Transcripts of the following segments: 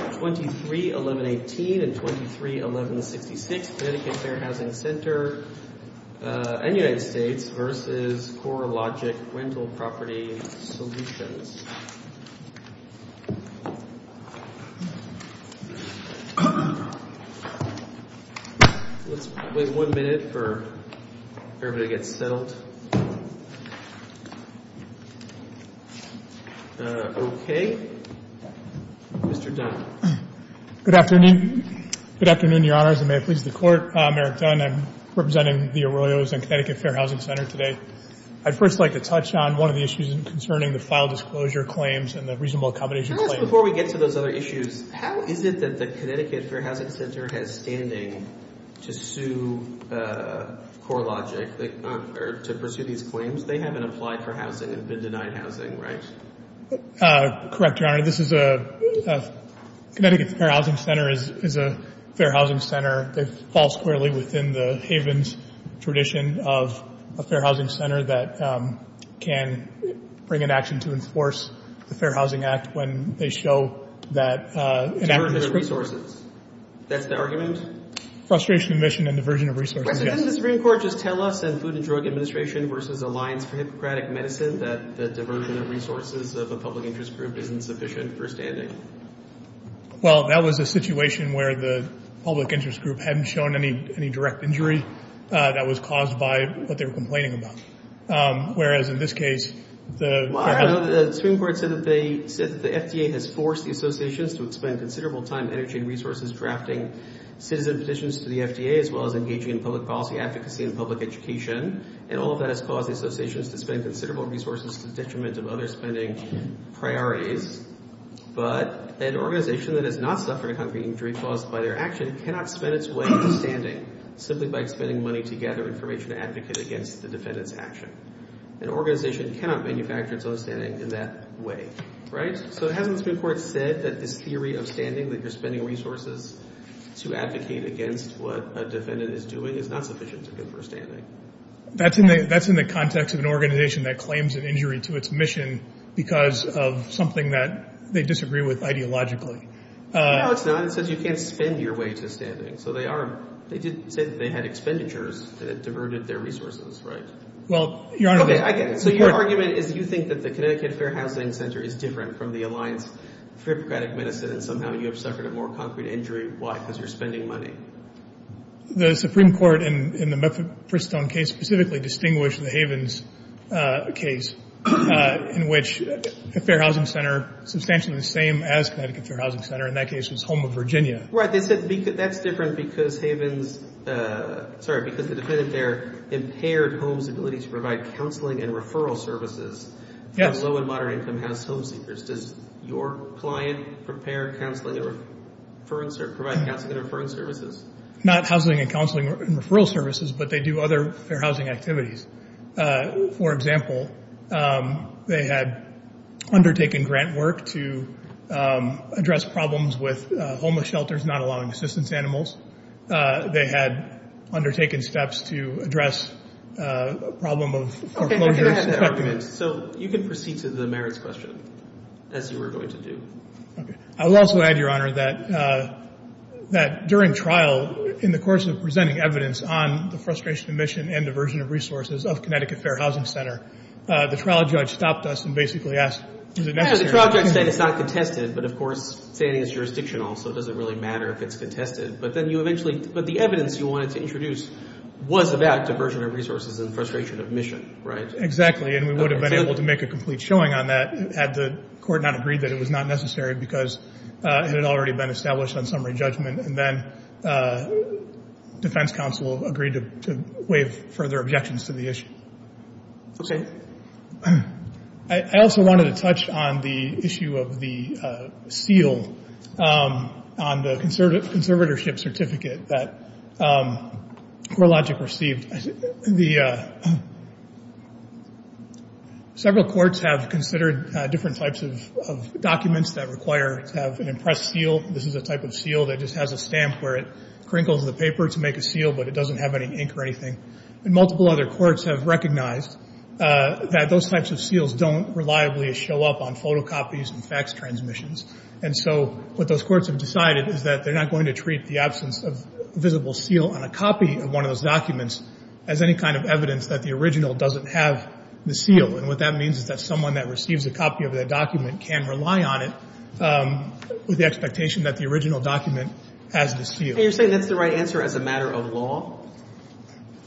231118 and 231166, Connecticut Fair Housing Center and United States v. Corelogic Rental Property Solutions Let's wait one minute for everybody to get settled Okay. Mr. Dunn. Good afternoon. Good afternoon, Your Honors, and may it please the Court. I'm Eric Dunn. I'm representing the Arroyos and Connecticut Fair Housing Center today. I'd first like to touch on one of the issues concerning the file disclosure claims and the reasonable accommodation claims. Before we get to those other issues, how is it that the Connecticut Fair Housing Center has standing to sue Corelogic or to pursue these claims? They haven't applied for housing and been denied housing, right? Correct, Your Honor. This is a — Connecticut Fair Housing Center is a fair housing center. It falls squarely within the Havens tradition of a fair housing center that can bring an action to enforce the Fair Housing Act when they show that — Diversion of resources. That's the argument? Frustration, admission, and diversion of resources, yes. Didn't the Supreme Court just tell us in Food and Drug Administration v. Alliance for Hippocratic Medicine that the diversion of resources of a public interest group isn't sufficient for standing? Well, that was a situation where the public interest group hadn't shown any direct injury that was caused by what they were complaining about. Whereas in this case, the — Well, I know that the Supreme Court said that they — said that the FDA has forced the associations to expend considerable time, energy, and resources drafting citizen petitions to the FDA, as well as engaging in public policy advocacy and public education. And all of that has caused the associations to spend considerable resources to the detriment of other spending priorities. But an organization that has not suffered a concrete injury caused by their action cannot spend its way to standing simply by expending money to gather information to advocate against the defendant's action. An organization cannot manufacture its own standing in that way. Right? So it hasn't the Supreme Court said that this theory of standing, that you're spending resources to advocate against what a defendant is doing, is not sufficient to go for standing? That's in the context of an organization that claims an injury to its mission because of something that they disagree with ideologically. No, it's not. It says you can't spend your way to standing. So they are — they did say that they had expenditures that diverted their resources. Right? Well, Your Honor — Okay, I get it. So your argument is you think that the Connecticut Fair Housing Center is different from the Alliance for Hippocratic Medicine, and somehow you have suffered a more concrete injury. Why? Because you're spending money. The Supreme Court in the Meffitt-Bristown case specifically distinguished the Havens case, in which the Fair Housing Center, substantially the same as Connecticut Fair Housing Center, in that case was Home of Virginia. Right. They said that's different because Havens — sorry, because the defendant there impaired Homes' ability to provide counseling and referral services to low- and moderate-income House home seekers. Does your client prepare counseling and — provide counseling and referral services? Not housing and counseling and referral services, but they do other Fair Housing activities. For example, they had undertaken grant work to address problems with homeless shelters not allowing assistance to animals. They had undertaken steps to address a problem of foreclosures. So you can proceed to the merits question, as you were going to do. Okay. I will also add, Your Honor, that during trial, in the course of presenting evidence on the frustration of mission and diversion of resources of Connecticut Fair Housing Center, the trial judge stopped us and basically asked, is it necessary — Yeah, the trial judge said it's not contested, but of course, saying it's jurisdictional, so it doesn't really matter if it's contested. But then you eventually — but the evidence you wanted to introduce was about diversion of resources and frustration of mission. Right? Exactly. And we would have been able to make a complete showing on that had the court not agreed that it was not necessary because it had already been established on summary judgment. And then defense counsel agreed to waive further objections to the issue. Okay. I also wanted to touch on the issue of the seal on the conservatorship certificate that CoreLogic received. The — several courts have considered different types of documents that require to have an impressed seal. This is a type of seal that just has a stamp where it crinkles the paper to make a seal, but it doesn't have any ink or anything. And multiple other courts have recognized that those types of seals don't reliably show up on photocopies and fax transmissions. And so what those courts have decided is that they're not going to treat the absence of a visible seal on a copy of one of those documents as any kind of evidence that the original doesn't have the seal. And what that means is that someone that receives a copy of that document can rely on it with the expectation that the original document has the seal. And you're saying that's the right answer as a matter of law?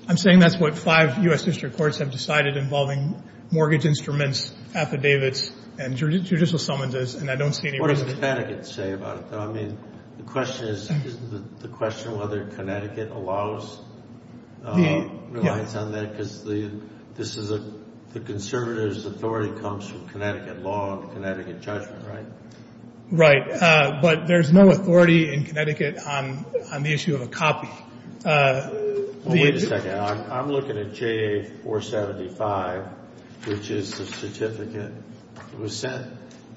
I'm saying that's what five U.S. district courts have decided involving mortgage instruments, affidavits, and judicial summonses. And I don't see any reason — What does Connecticut say about it, though? I mean, the question is, isn't the question whether Connecticut allows — relies on that? Because the — this is a — the conservatives' authority comes from Connecticut law and Connecticut judgment, right? Right. But there's no authority in Connecticut on the issue of a copy. Well, wait a second. I'm looking at JA-475, which is the certificate that was sent.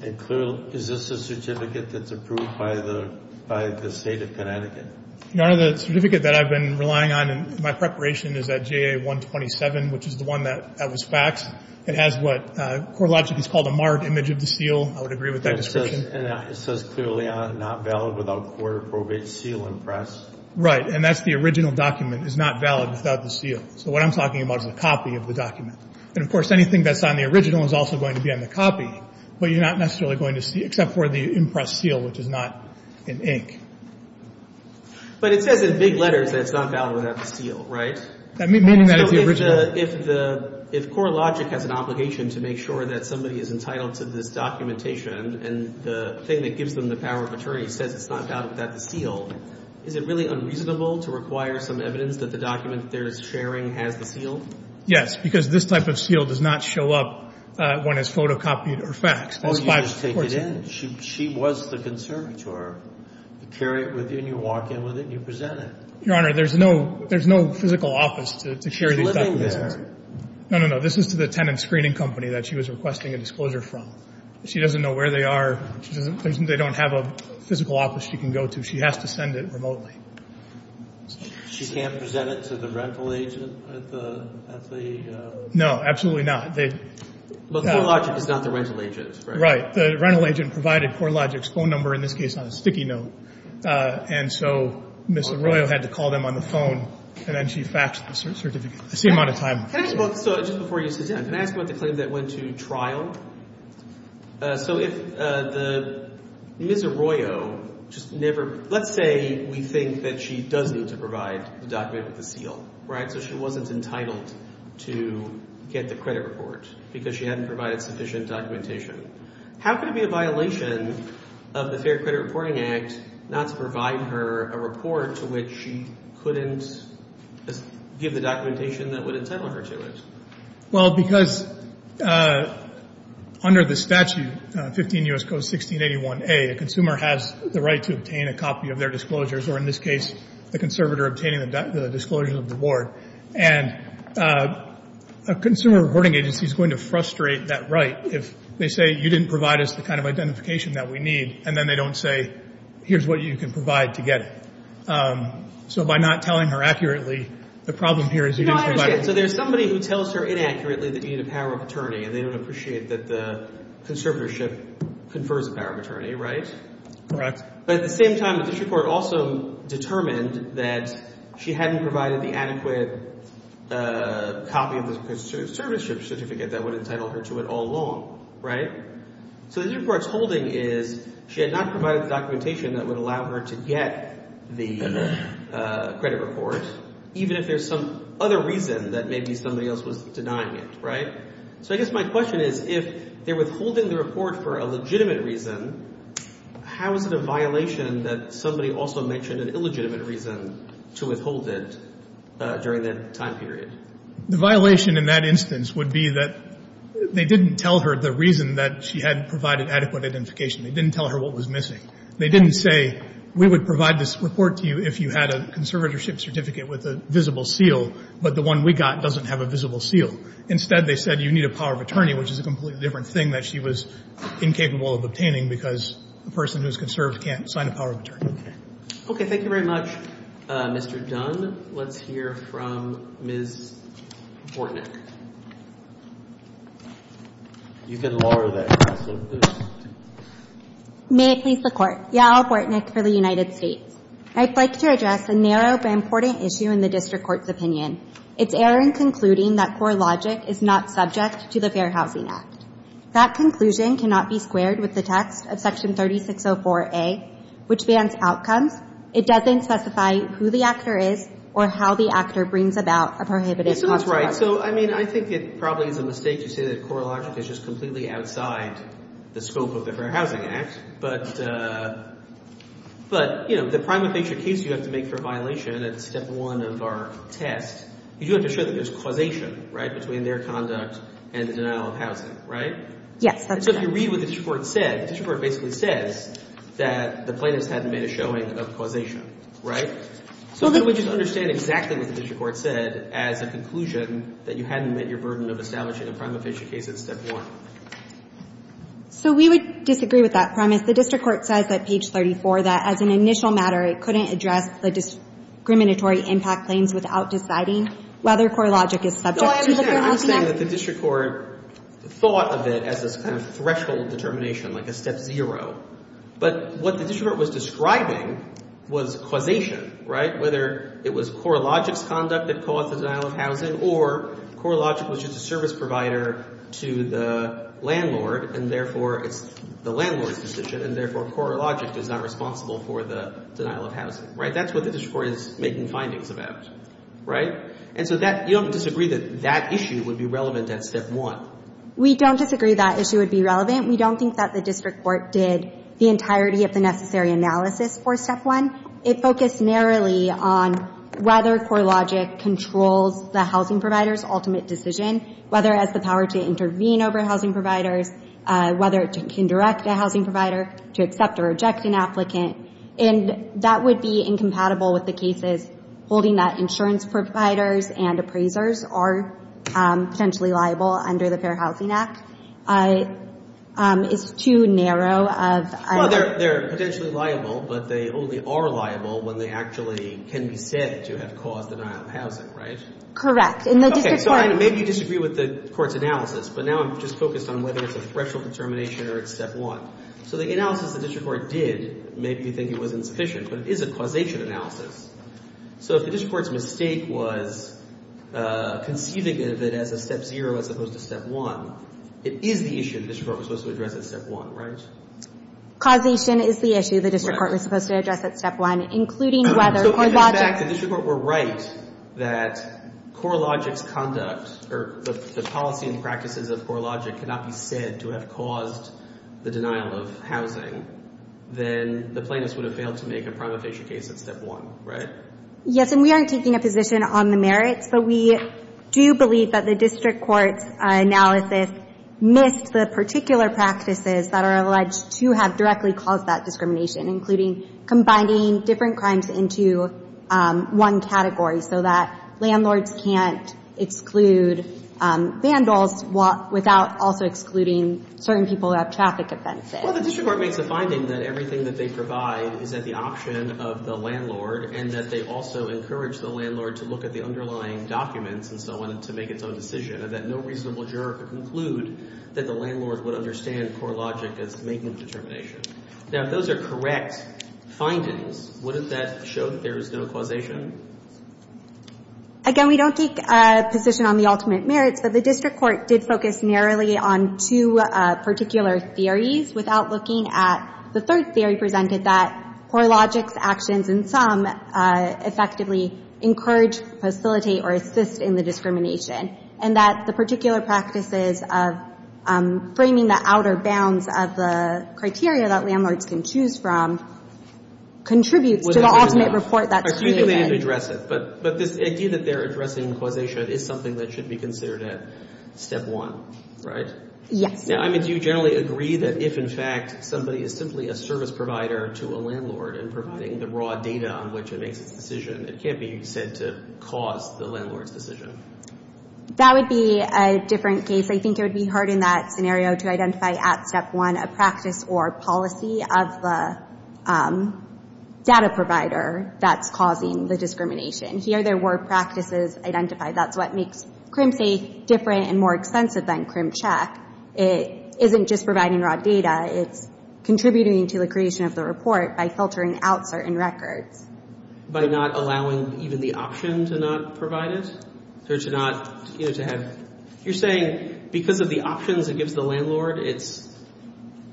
And clearly — is this a certificate that's approved by the — by the State of Connecticut? Your Honor, the certificate that I've been relying on in my preparation is that JA-127, which is the one that was faxed. It has what court logic has called a marred image of the seal. I would agree with that description. And it says clearly not valid without court-approved seal and press. Right. And that's the original document is not valid without the seal. So what I'm talking about is a copy of the document. And, of course, anything that's on the original is also going to be on the copy, but you're not necessarily going to see — except for the impressed seal, which is not in ink. But it says in big letters that it's not valid without the seal, right? Maybe that is the original. So if the — if court logic has an obligation to make sure that somebody is entitled to this documentation and the thing that gives them the power of attorney says it's not valid without the seal, is it really unreasonable to require some evidence that the document they're sharing has the seal? Yes, because this type of seal does not show up when it's photocopied or faxed. Oh, you just take it in. She was the conservator. You carry it with you and you walk in with it and you present it. Your Honor, there's no physical office to carry these documents. She's living there. No, no, no. This is to the tenant screening company that she was requesting a disclosure from. She doesn't know where they are. They don't have a physical office she can go to. She has to send it remotely. She can't present it to the rental agent at the — No, absolutely not. But court logic is not the rental agent's, right? Right. The rental agent provided court logic's phone number, in this case, on a sticky note. And so Ms. Arroyo had to call them on the phone, and then she faxed the certificate the same amount of time. Can I ask both — so just before you sit down, can I ask about the claim that went to trial? So if the — Ms. Arroyo just never — let's say we think that she does need to provide the document with the seal, right? So she wasn't entitled to get the credit report because she hadn't provided sufficient documentation. How could it be a violation of the Fair Credit Reporting Act not to provide her a report to which she couldn't give the documentation that would entitle her to it? Well, because under the statute, 15 U.S. Code 1681a, a consumer has the right to obtain a copy of their disclosures, or in this case, the conservator obtaining the disclosures of the board. And a consumer reporting agency is going to frustrate that right if they say you didn't provide us the kind of identification that we need, and then they don't say here's what you can provide to get it. So by not telling her accurately, the problem here is you didn't provide it. So there's somebody who tells her inaccurately that you need a power of attorney, and they don't appreciate that the conservatorship confers the power of attorney, right? Correct. But at the same time, the district court also determined that she hadn't provided the adequate copy of the conservatorship certificate that would entitle her to it all along, right? So the district court's holding is she had not provided the documentation that would allow her to get the credit report, even if there's some other reason that maybe somebody else was denying it, right? So I guess my question is if they're withholding the report for a legitimate reason, how is it a violation that somebody also mentioned an illegitimate reason to withhold it during that time period? The violation in that instance would be that they didn't tell her the reason that she hadn't provided adequate identification. They didn't tell her what was missing. They didn't say we would provide this report to you if you had a conservatorship certificate with a visible seal, but the one we got doesn't have a visible seal. Instead, they said you need a power of attorney, which is a completely different thing that she was incapable of obtaining because a person who's conserved can't sign a power of attorney. Thank you very much, Mr. Dunn. Let's hear from Ms. Bortnick. You can lower that. May it please the Court. Yael Bortnick for the United States. I'd like to address a narrow but important issue in the district court's opinion. It's error in concluding that CoreLogic is not subject to the Fair Housing Act. That conclusion cannot be squared with the text of Section 3604A, which bans outcomes. It doesn't specify who the actor is or how the actor brings about a prohibited conservation. This one's right. So, I mean, I think it probably is a mistake to say that CoreLogic is just completely outside the scope of the Fair Housing Act. But, you know, the primary feature case you have to make for a violation at step one of our test, you do have to show that there's causation, right, between their conduct and the denial of housing, right? Yes, that's correct. So if you read what the district court said, the district court basically says that the plaintiffs hadn't made a showing of causation, right? So I would just understand exactly what the district court said as a conclusion that you hadn't met your burden of establishing a primary feature case at step one. So we would disagree with that premise. The district court says at page 34 that as an initial matter, it couldn't address the discriminatory impact claims without deciding whether CoreLogic is subject to the Fair Housing Act. I'm saying that the district court thought of it as this kind of threshold determination, like a step zero. But what the district court was describing was causation, right, whether it was CoreLogic's conduct that caused the denial of housing or CoreLogic was just a service provider to the landlord and therefore it's the landlord's decision and therefore CoreLogic is not responsible for the denial of housing, right? That's what the district court is making findings about, right? And so that – you don't disagree that that issue would be relevant at step one? We don't disagree that issue would be relevant. We don't think that the district court did the entirety of the necessary analysis for step one. It focused narrowly on whether CoreLogic controls the housing provider's ultimate decision, whether it has the power to intervene over housing providers, whether it can direct a housing provider to accept or reject an applicant. And that would be incompatible with the cases holding that insurance providers and appraisers are potentially liable under the Fair Housing Act. It's too narrow of – Well, they're potentially liable, but they only are liable when they actually can be said to have caused denial of housing, right? Correct. Okay, so I maybe disagree with the court's analysis, but now I'm just focused on whether it's a threshold determination or it's step one. So the analysis the district court did made me think it was insufficient, but it is a causation analysis. So if the district court's mistake was conceiving of it as a step zero as opposed to step one, it is the issue the district court was supposed to address at step one, right? Causation is the issue the district court was supposed to address at step one, including whether CoreLogic – So if in fact the district court were right that CoreLogic's conduct or the policy and practices of CoreLogic cannot be said to have caused the denial of housing, then the plaintiffs would have failed to make a prima facie case at step one, right? Yes, and we aren't taking a position on the merits, but we do believe that the district court's analysis missed the particular practices that are alleged to have directly caused that discrimination, including combining different crimes into one category so that landlords can't exclude vandals without also excluding certain people who have traffic offenses. Well, the district court makes a finding that everything that they provide is at the option of the landlord and that they also encourage the landlord to look at the underlying documents and so on to make its own decision, and that no reasonable juror could conclude that the landlord would understand CoreLogic as making the determination. Now, if those are correct findings, wouldn't that show that there is no causation? Again, we don't take a position on the ultimate merits, but the district court did focus narrowly on two particular theories without looking at the third theory presented, that CoreLogic's actions in sum effectively encourage, facilitate, or assist in the discrimination, and that the particular practices of framing the outer bounds of the criteria that landlords can choose from contributes to the ultimate report that's created. But you think they didn't address it, but this idea that they're addressing causation is something that should be considered at step one, right? Yes. Now, I mean, do you generally agree that if, in fact, somebody is simply a service provider to a landlord and providing the raw data on which it makes its decision, it can't be said to cause the landlord's decision? That would be a different case. I think it would be hard in that scenario to identify at step one a practice or policy of the data provider that's causing the discrimination. Here there were practices identified. That's what makes CrimSAFE different and more extensive than CrimCheck. It isn't just providing raw data. It's contributing to the creation of the report by filtering out certain records. By not allowing even the option to not provide it or to not, you know, to have... You're saying because of the options it gives the landlord, it's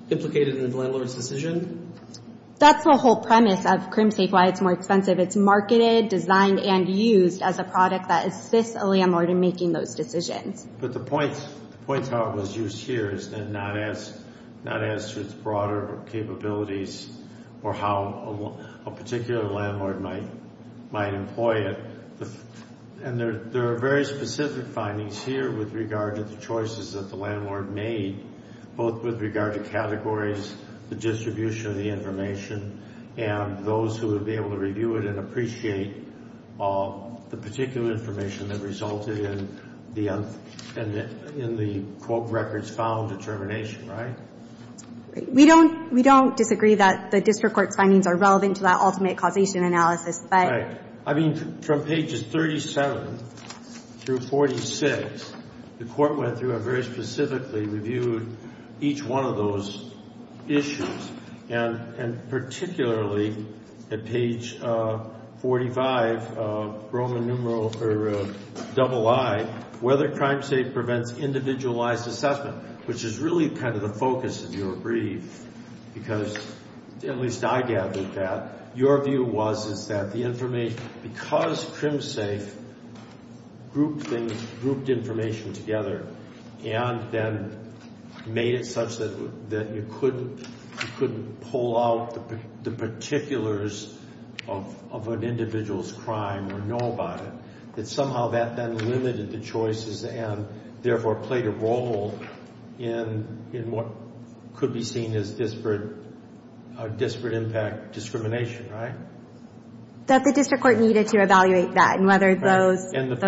implicated in the landlord's decision? That's the whole premise of CrimSAFE, why it's more expensive. It's marketed, designed, and used as a product that assists a landlord in making those decisions. But the point to how it was used here is not as to its broader capabilities or how a particular landlord might employ it. And there are very specific findings here with regard to the choices that the landlord made, both with regard to categories, the distribution of the information, and those who would be able to review it and appreciate the particular information that resulted in the quote, records found determination, right? We don't disagree that the district court's findings are relevant to that ultimate causation analysis, but... Right. I mean, from pages 37 through 46, the court went through and very specifically reviewed each one of those issues. And particularly at page 45, Roman numeral, or double I, whether CrimSAFE prevents individualized assessment, which is really kind of the focus of your brief, because at least I gathered that. Your view was is that the information, because CrimSAFE grouped things, and then made it such that you couldn't pull out the particulars of an individual's crime or know about it, that somehow that then limited the choices and therefore played a role in what could be seen as disparate impact discrimination, right? That the district court needed to evaluate that and whether those... because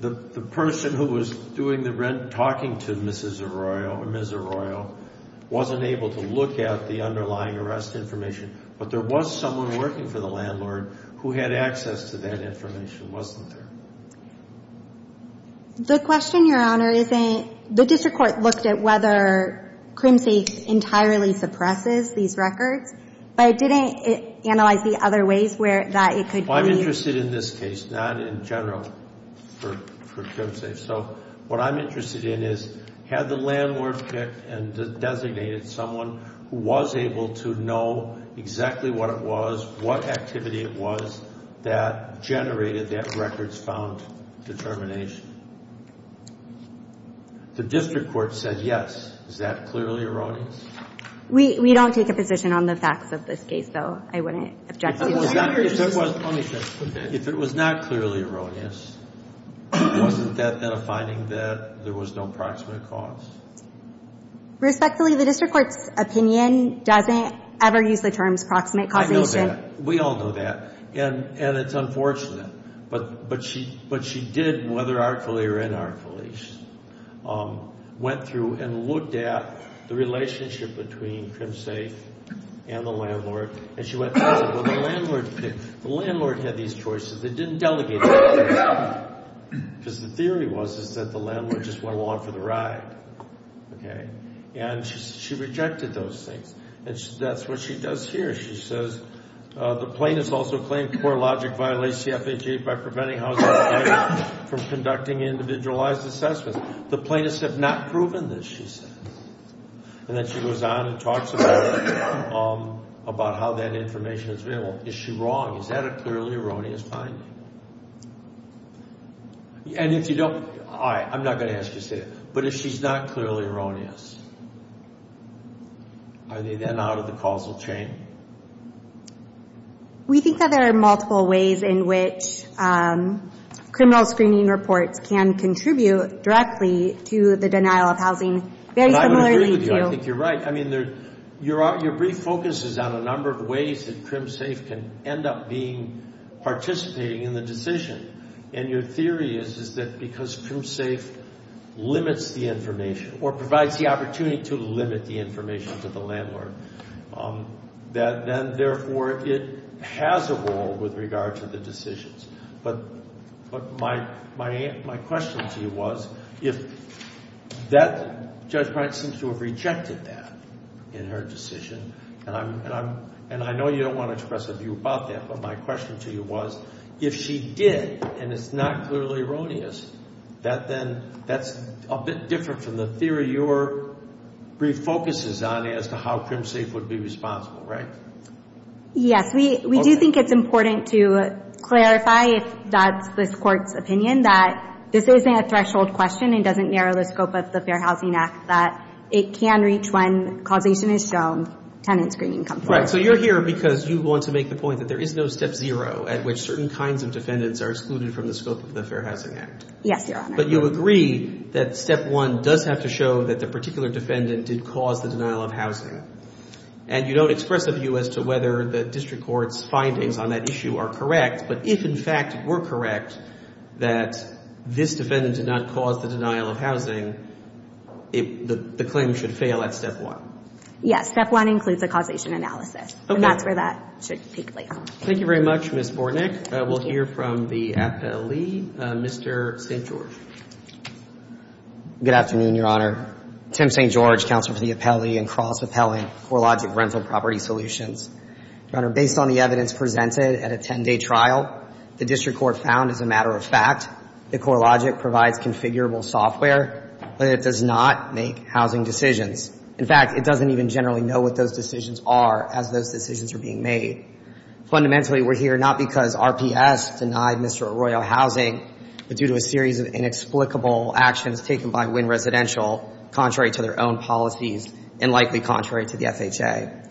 the person who was doing the rent talking to Mrs. Arroyo or Ms. Arroyo wasn't able to look at the underlying arrest information, but there was someone working for the landlord who had access to that information, wasn't there? The question, Your Honor, isn't... The district court looked at whether CrimSAFE entirely suppresses these records, but it didn't analyze the other ways that it could be... Well, I'm interested in this case, not in general for CrimSAFE. So what I'm interested in is had the landlord picked and designated someone who was able to know exactly what it was, what activity it was, that generated that records found determination? The district court said yes. Is that clearly erroneous? We don't take a position on the facts of this case, though. I wouldn't object to that. If it was not clearly erroneous, wasn't that then a finding that there was no proximate cause? Respectfully, the district court's opinion doesn't ever use the terms proximate causation. I know that. We all know that. And it's unfortunate, but she did, whether artfully or inartfully, went through and looked at the relationship between CrimSAFE and the landlord, and she went, oh, well, the landlord picked... The landlord had these choices. It didn't delegate values. Because the theory was is that the landlord just went along for the ride. And she rejected those things. And that's what she does here. She says, the plaintiff's also claimed poor logic violates the FHA from conducting individualized assessments. The plaintiffs have not proven this, she says. And then she goes on and talks about how that information is available. Is she wrong? Is that a clearly erroneous finding? And if you don't... All right, I'm not going to ask you to say that. But if she's not clearly erroneous, are they then out of the causal chain? We think that there are multiple ways in which criminal screening reports can contribute directly to the denial of housing. Very similarly to... And I would agree with you. I think you're right. I mean, your brief focus is on a number of ways that CrimSAFE can end up participating in the decision. And your theory is that because CrimSAFE limits the information or provides the opportunity to limit the information to the landlord, that then, therefore, it has a role with regard to the decisions. But my question to you was, if that... Judge Bryant seems to have rejected that in her decision. And I know you don't want to express a view about that. But my question to you was, if she did and it's not clearly erroneous, that then that's a bit different from the theory your brief focus is on as to how CrimSAFE would be responsible, right? Yes. We do think it's important to clarify, if that's this Court's opinion, that this isn't a threshold question and doesn't narrow the scope of the Fair Housing Act, that it can reach when causation is shown, tenant screening comes forward. Right. So you're here because you want to make the point that there is no Step 0 at which certain kinds of defendants are excluded from the scope of the Fair Housing Act. Yes, Your Honor. But you agree that Step 1 does have to show that the particular defendant did cause the denial of housing. And you don't express a view as to whether the district court's findings on that issue are correct. But if, in fact, we're correct that this defendant did not cause the denial of housing, the claim should fail at Step 1. Yes. Step 1 includes a causation analysis. Okay. And that's where that should take place. Thank you very much, Ms. Bortnick. We'll hear from the appellee, Mr. St. George. Good afternoon, Your Honor. Tim St. George, counselor for the appellee and Cross Appellant, CoreLogic Rental Property Solutions. Your Honor, based on the evidence presented at a 10-day trial, the district court found as a matter of fact that CoreLogic provides configurable software, but it does not make housing decisions. In fact, it doesn't even generally know what those decisions are as those decisions are being made. Fundamentally, we're here not because RPS denied Mr. Arroyo housing, but due to a series of inexplicable actions taken by Wynn Residential, contrary to their own policies and likely contrary to the FHA.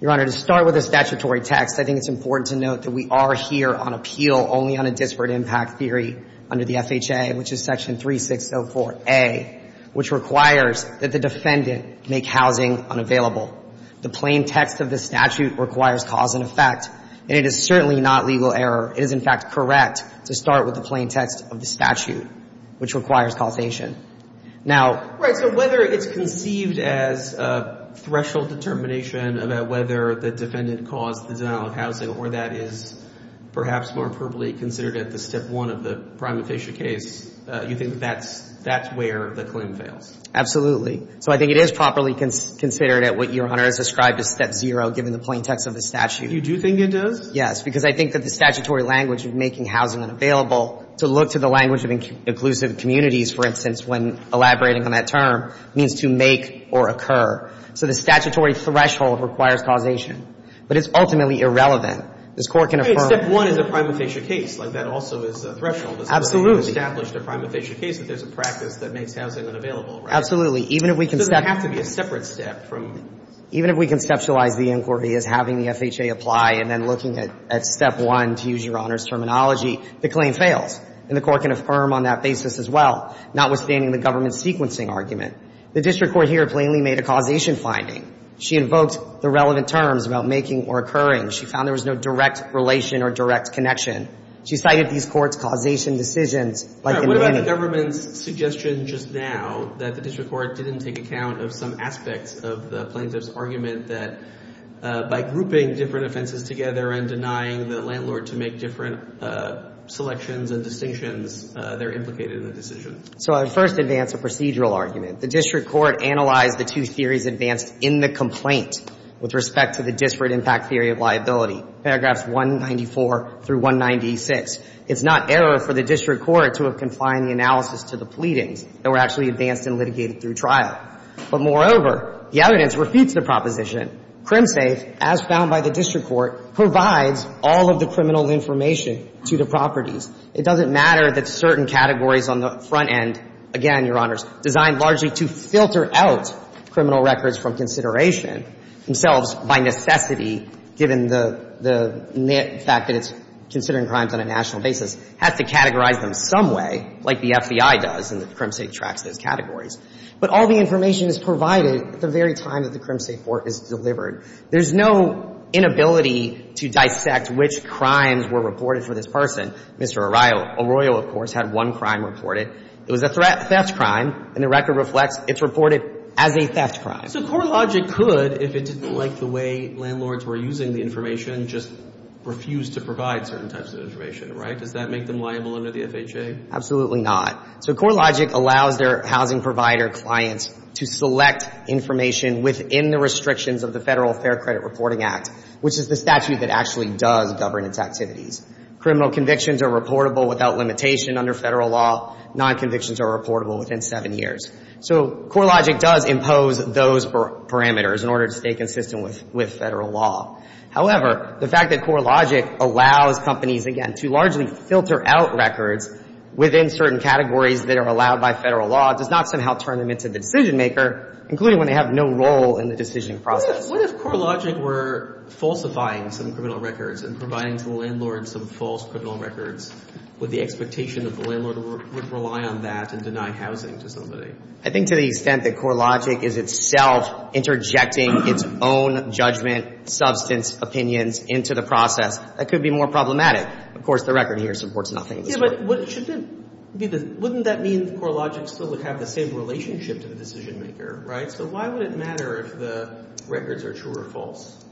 Your Honor, to start with the statutory text, I think it's important to note that we are here on appeal only on a disparate impact theory under the FHA, which is Section 3604A, which requires that the defendant make housing unavailable. The plain text of the statute requires cause and effect, and it is certainly not legal error. It is, in fact, correct to start with the plain text of the statute, which requires causation. Now — Right, so whether it's conceived as a threshold determination about whether the defendant caused the denial of housing or that is perhaps more appropriately considered at the step one of the prima facie case, you think that that's where the claim fails? Absolutely. So I think it is properly considered at what Your Honor has described as step zero, given the plain text of the statute. You do think it does? Yes, because I think that the statutory language of making housing unavailable to look to the language of inclusive communities, for instance, when elaborating on that term, means to make or occur. So the statutory threshold requires causation. But it's ultimately irrelevant. This Court can affirm — Step one is a prima facie case. Like, that also is a threshold. Absolutely. It's established a prima facie case that there's a practice that makes housing unavailable. Absolutely. Even if we can step — So there would have to be a separate step from — Even if we conceptualize the inquiry as having the FHA apply and then looking at step one, to use Your Honor's terminology, the claim fails. And the Court can affirm on that basis as well, notwithstanding the government sequencing argument. The district court here plainly made a causation finding. She invoked the relevant terms about making or occurring. She found there was no direct relation or direct connection. She cited these courts' causation decisions like in Manny. What about the government's suggestion just now that the district court didn't take into account of some aspects of the plaintiff's argument that by grouping different offenses together and denying the landlord to make different selections and distinctions, they're implicated in the decision? So I would first advance a procedural argument. The district court analyzed the two theories advanced in the complaint with respect to the disparate impact theory of liability, paragraphs 194 through 196. It's not error for the district court to have confined the analysis to the pleadings that were actually advanced and litigated through trial. But moreover, the evidence repeats the proposition. CrimSafe, as found by the district court, provides all of the criminal information to the properties. It doesn't matter that certain categories on the front end, again, Your Honors, designed largely to filter out criminal records from consideration themselves by necessity, given the fact that it's considering crimes on a national basis, has to categorize them some way, like the FBI does and the CrimSafe tracks those categories. But all the information is provided at the very time that the CrimSafe court is delivered. There's no inability to dissect which crimes were reported for this person. Mr. Arroyo, of course, had one crime reported. It was a theft crime, and the record reflects it's reported as a theft crime. So CourtLogic could, if it didn't like the way landlords were using the information, just refuse to provide certain types of information, right? Does that make them liable under the FHA? Absolutely not. So CourtLogic allows their housing provider clients to select information within the restrictions of the Federal Fair Credit Reporting Act, which is the statute that actually does govern its activities. Criminal convictions are reportable without limitation under Federal law. Non-convictions are reportable within seven years. So CourtLogic does impose those parameters in order to stay consistent with Federal law. However, the fact that CourtLogic allows companies, again, to largely filter out records within certain categories that are allowed by Federal law does not somehow turn them into the decision maker, including when they have no role in the decision process. What if CourtLogic were falsifying some criminal records and providing to the landlord some false criminal records with the expectation that the landlord would rely on that and deny housing to somebody? I think to the extent that CourtLogic is itself interjecting its own judgment substance opinions into the process, that could be more problematic. Of course, the record here supports nothing of the sort. Yeah, but wouldn't that mean CourtLogic still would have the same relationship to the decision maker, right? So why would it matter if the records are true or false?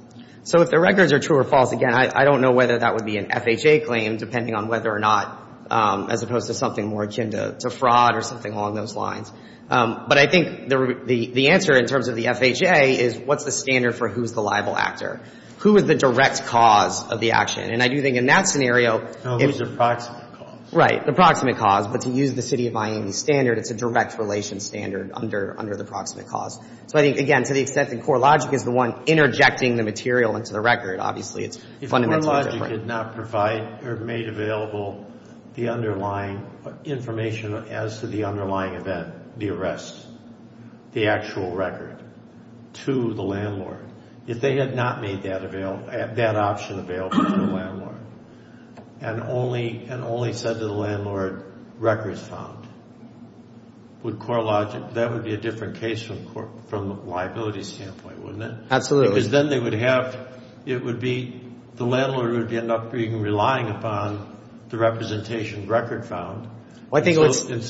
So if the records are true or false, again, I don't know whether that would be an FHA claim, depending on whether or not, as opposed to something more akin to fraud or something along those lines. But I think the answer, in terms of the FHA, is what's the standard for who's the liable actor? Who is the direct cause of the action? And I do think in that scenario, it's the proximate cause. Right, the proximate cause. But to use the City of Miami standard, it's a direct relation standard under the proximate cause. So I think, again, to the extent that CourtLogic is the one interjecting the material into the record, obviously, it's fundamentally different. If CourtLogic did not provide or made available the underlying information as to the underlying event, the arrest, the actual record, to the landlord, if they had not made that option available to the landlord and only said to the landlord, records found, that would be a different case from a liability standpoint, wouldn't it? Absolutely. Because then they would have, it would be, the landlord would end up relying upon the representation record found. And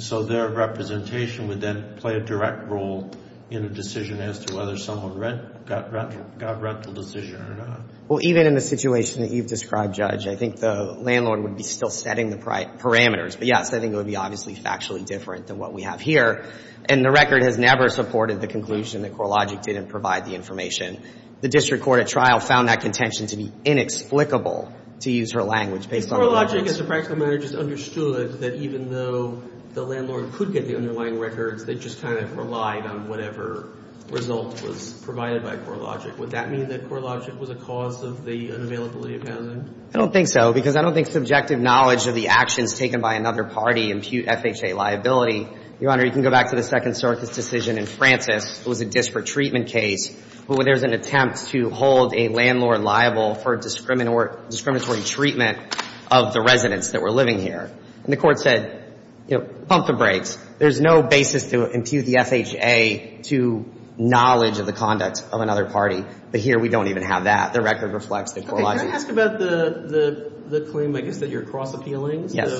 so their representation would then play a direct role in a decision as to whether someone got a rental decision or not. Well, even in the situation that you've described, Judge, I think the landlord would be still setting the parameters. But, yes, I think it would be obviously factually different than what we have here. And the record has never supported the conclusion that CourtLogic didn't provide the information. The district court at trial found that contention to be inexplicable, to use her language, based on the records. Your Honor, I guess the practical matter just understood that even though the landlord could get the underlying records, they just kind of relied on whatever result was provided by CourtLogic. Would that mean that CourtLogic was a cause of the unavailability of housing? I don't think so, because I don't think subjective knowledge of the actions taken by another party impute FHA liability. Your Honor, you can go back to the Second Circus decision in Francis. It was a disparate treatment case. But when there's an attempt to hold a landlord liable for discriminatory treatment of the residents that were living here, and the court said, you know, pump the brakes, there's no basis to impute the FHA to knowledge of the conduct of another party. But here we don't even have that. The record reflects that CourtLogic. Can I ask about the claim, I guess, that you're cross-appealing? Yes.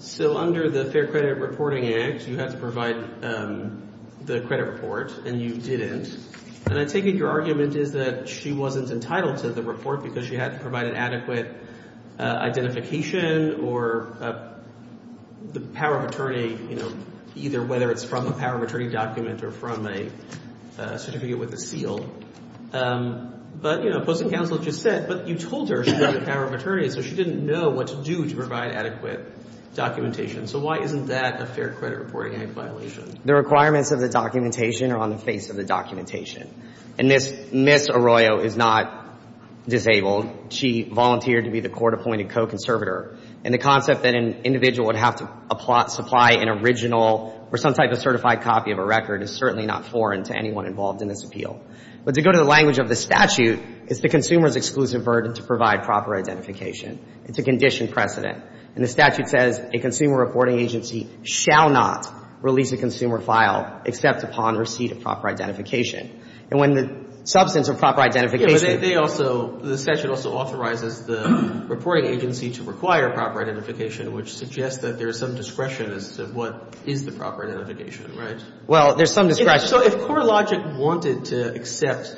So under the Fair Credit Reporting Act, you had to provide the credit report, and you didn't. And I take it your argument is that she wasn't entitled to the report because she had to provide an adequate identification or the power of attorney, you know, either whether it's from a power of attorney document or from a certificate with a seal. But, you know, Postal Counsel just said, but you told her she had the power of attorney, so she didn't know what to do to provide adequate documentation. So why isn't that a Fair Credit Reporting Act violation? The requirements of the documentation are on the face of the documentation. And Ms. Arroyo is not disabled. She volunteered to be the court-appointed co-conservator. And the concept that an individual would have to supply an original or some type of certified copy of a record is certainly not foreign to anyone involved in this appeal. But to go to the language of the statute, it's the consumer's exclusive burden to provide proper identification. It's a conditioned precedent. And the statute says a consumer reporting agency shall not release a consumer file except upon receipt of proper identification. And when the substance of proper identification Yeah, but they also, the statute also authorizes the reporting agency to require proper identification, which suggests that there is some discretion as to what is the proper identification, right? Well, there's some discretion. So if CoreLogic wanted to accept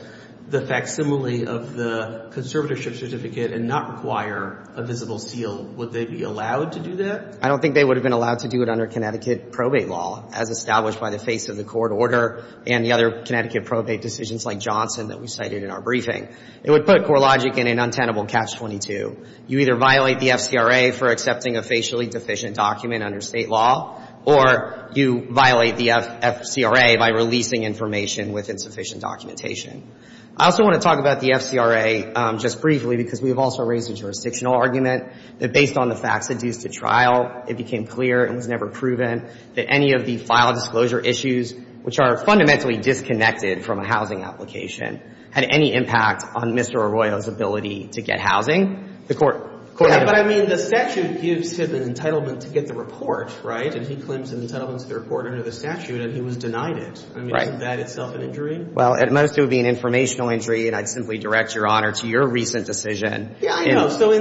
the facsimile of the conservatorship certificate and not require a visible seal, would they be allowed to do that? I don't think they would have been allowed to do it under Connecticut probate law, as established by the face of the court order and the other Connecticut probate decisions like Johnson that we cited in our briefing. It would put CoreLogic in an untenable catch-22. You either violate the FCRA for accepting a facially deficient document under state law, or you violate the FCRA by releasing information with insufficient documentation. I also want to talk about the FCRA just briefly because we've also raised a jurisdictional argument that based on the facts induced at trial, it became clear and was never proven that any of the file disclosure issues, which are fundamentally disconnected from a housing application, had any impact on Mr. Arroyo's ability to get housing. The court, the court had But I mean, the statute gives him an entitlement to get the report, right? And he claims an entitlement to the report under the statute and he was denied it. Right. Isn't that itself an injury? Well, at most, it would be an informational injury, and I'd simply direct your honor to your recent decision. Yeah, I know. So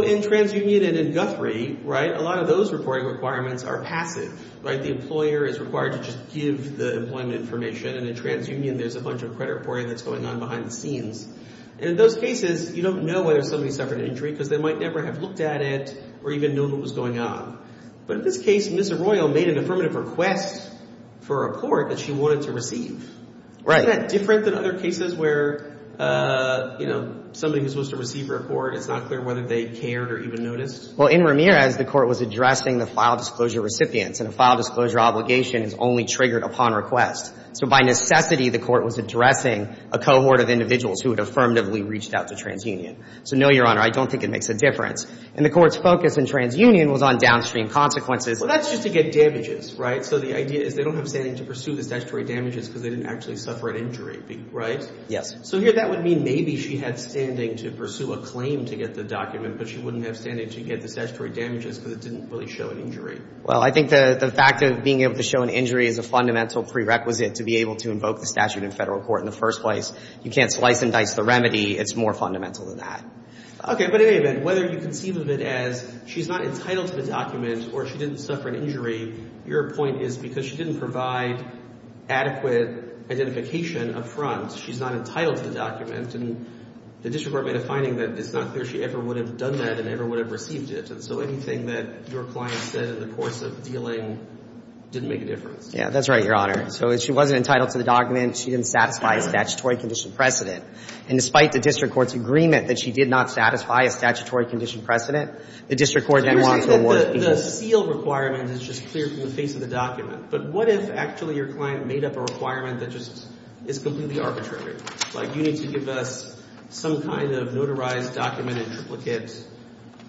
in TransUnion and in Guthrie, right, a lot of those reporting requirements are passive, right? The employer is required to just give the employment information, and in TransUnion, there's a bunch of credit reporting that's going on behind the scenes. And in those cases, you don't know whether somebody suffered an injury because they might never have looked at it or even known what was going on. But in this case, Ms. Arroyo made an affirmative request for a report that she wanted to receive. Right. Isn't that different than other cases where, you know, somebody who's supposed to receive a report, it's not clear whether they cared or even noticed? Well, in Ramirez, the court was addressing the file disclosure recipients, and a file disclosure obligation is only triggered upon request. So by necessity, the court was addressing a cohort of individuals who had affirmatively reached out to TransUnion. So no, your honor, I don't think it makes a difference. And the court's focus in TransUnion was on downstream consequences. Well, that's just to get damages, right? So the idea is they don't have standing to pursue the statutory damages because they didn't actually suffer an injury, right? Yes. So here that would mean maybe she had standing to pursue a claim to get the document, but she wouldn't have standing to get the statutory damages because it didn't really show an injury. Well, I think the fact of being able to show an injury is a fundamental prerequisite to be able to invoke the statute in federal court in the first place. You can't slice and dice the remedy. It's more fundamental than that. Okay, but in any event, whether you conceive of it as she's not entitled to the document or she didn't suffer an injury, your point is because she didn't provide adequate identification up front, she's not entitled to the document, and the district court made a finding that it's not clear she ever would have done that and ever would have received it. And so anything that your client said in the course of dealing didn't make a difference. Yeah, that's right, your honor. So if she wasn't entitled to the document, she didn't satisfy a statutory condition precedent. And despite the district court's agreement that she did not satisfy a statutory condition precedent, the district court then wants to award people. Even the seal requirement is just clear from the face of the document. But what if actually your client made up a requirement that just is completely arbitrary? Like you need to give us some kind of notarized document in triplicate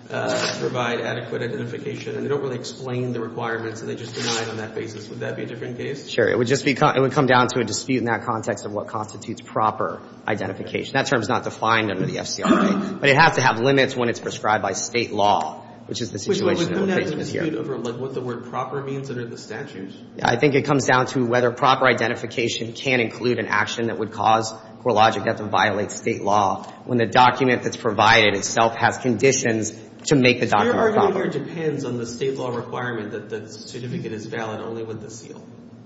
to provide adequate identification, and they don't really explain the requirements and they just deny it on that basis. Would that be a different case? Sure. It would come down to a dispute in that context of what constitutes proper identification. That term is not defined under the FCRA, but it has to have limits when it's prescribed by state law, which is the situation that we're facing here. But wouldn't that be a dispute over, like, what the word proper means under the statute? I think it comes down to whether proper identification can include an action that would cause CoreLogic not to violate state law when the document that's provided itself has conditions to make the document proper. Your argument here depends on the state law requirement that the certificate is valid only with the seal.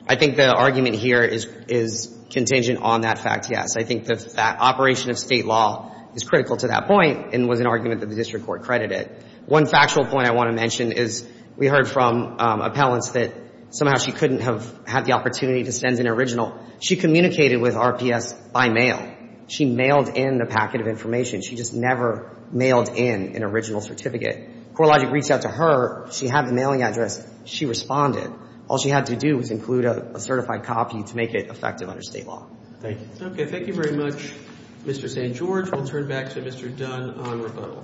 I think the argument here is contingent on that fact, yes. I think the operation of state law is critical to that point and was an argument that the district court credited. One factual point I want to mention is we heard from appellants that somehow she couldn't have had the opportunity to send an original. She communicated with RPS by mail. She mailed in a packet of information. She just never mailed in an original certificate. CoreLogic reached out to her. She had the mailing address. She responded. All she had to do was include a certified copy to make it effective under state law. Thank you. Okay. Thank you very much, Mr. St. George. We'll turn back to Mr. Dunn on rebuttal.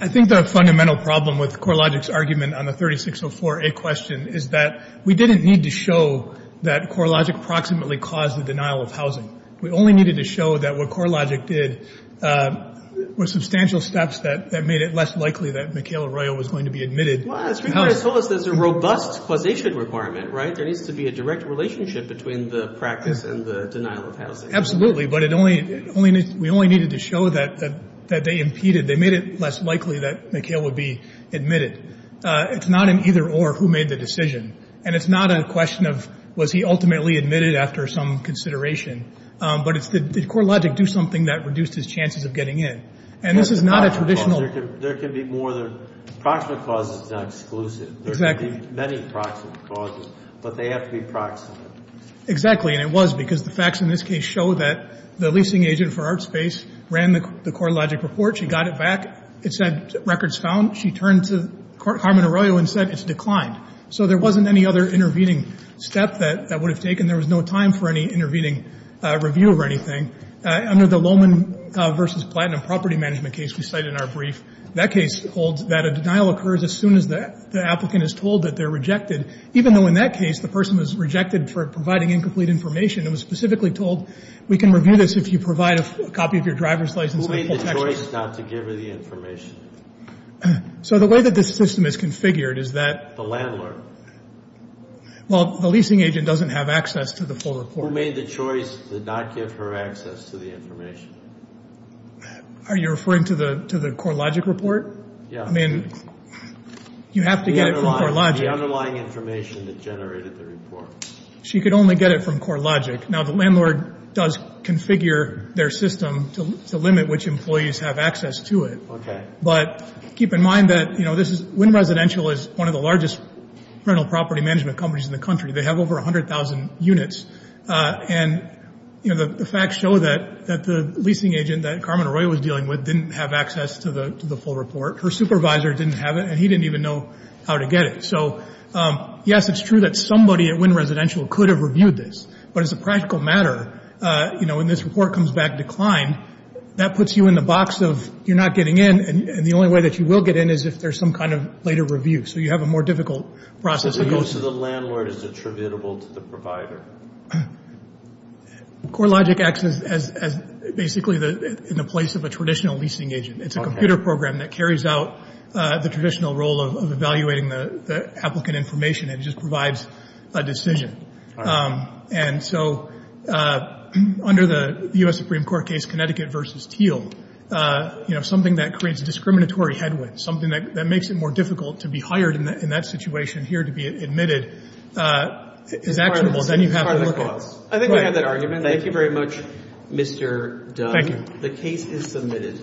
I think the fundamental problem with CoreLogic's argument on the 3604A question is that we didn't need to show that CoreLogic approximately caused the denial of housing. We only needed to show that what CoreLogic did were substantial steps that made it less likely that Michaela Royal was going to be admitted. Well, that's because it told us there's a robust causation requirement, right? There needs to be a direct relationship between the practice and the denial of housing. Absolutely. But we only needed to show that they impeded. They made it less likely that Michaela would be admitted. It's not an either-or who made the decision. And it's not a question of was he ultimately admitted after some consideration. But it's did CoreLogic do something that reduced his chances of getting in? And this is not a traditional... There can be more than... Approximate causes is not exclusive. Exactly. There can be many approximate causes, but they have to be proximate. Exactly. And it was because the facts in this case show that the leasing agent for ArtSpace ran the CoreLogic report. She got it back. It said records found. She turned to Carmen Arroyo and said it's declined. So there wasn't any other intervening step that would have taken. There was no time for any intervening review or anything. Under the Lohman v. Platinum property management case we cited in our brief, that case holds that a denial occurs as soon as the applicant is told that they're rejected, even though in that case, the person was rejected for providing incomplete information and was specifically told we can review this if you provide a copy of your driver's license... Who made the choice not to give her the information? So the way that this system is configured is that... The landlord. Well, the leasing agent doesn't have access to the full report. Who made the choice to not give her access to the information? Are you referring to the CoreLogic report? Yeah. I mean, you have to get it from CoreLogic. The underlying information that generated the report. She could only get it from CoreLogic. Now, the landlord does configure their system to limit which employees have access to it. Okay. But keep in mind that, you know, Wynn Residential is one of the largest rental property management companies in the country. They have over 100,000 units. And, you know, the facts show that the leasing agent that Carmen Arroyo was dealing with didn't have access to the full report. Her supervisor didn't have it, and he didn't even know how to get it. So, yes, it's true that somebody at Wynn Residential could have reviewed this. But as a practical matter, you know, when this report comes back declined, that puts you in the box of you're not getting in, and the only way that you will get in is if there's some kind of later review. So you have a more difficult process. So the use of the landlord is attributable to the provider? CoreLogic acts as basically in the place of a traditional leasing agent. It's a computer program that carries out the traditional role of evaluating the applicant information. It just provides a decision. And so under the U.S. Supreme Court case, Connecticut v. Teal, you know, something that creates discriminatory headwinds, something that makes it more difficult to be hired in that situation here to be admitted, is attributable. Then you have to look at it. I think we have that argument. Thank you very much, Mr. Dunn. Thank you. The case is submitted.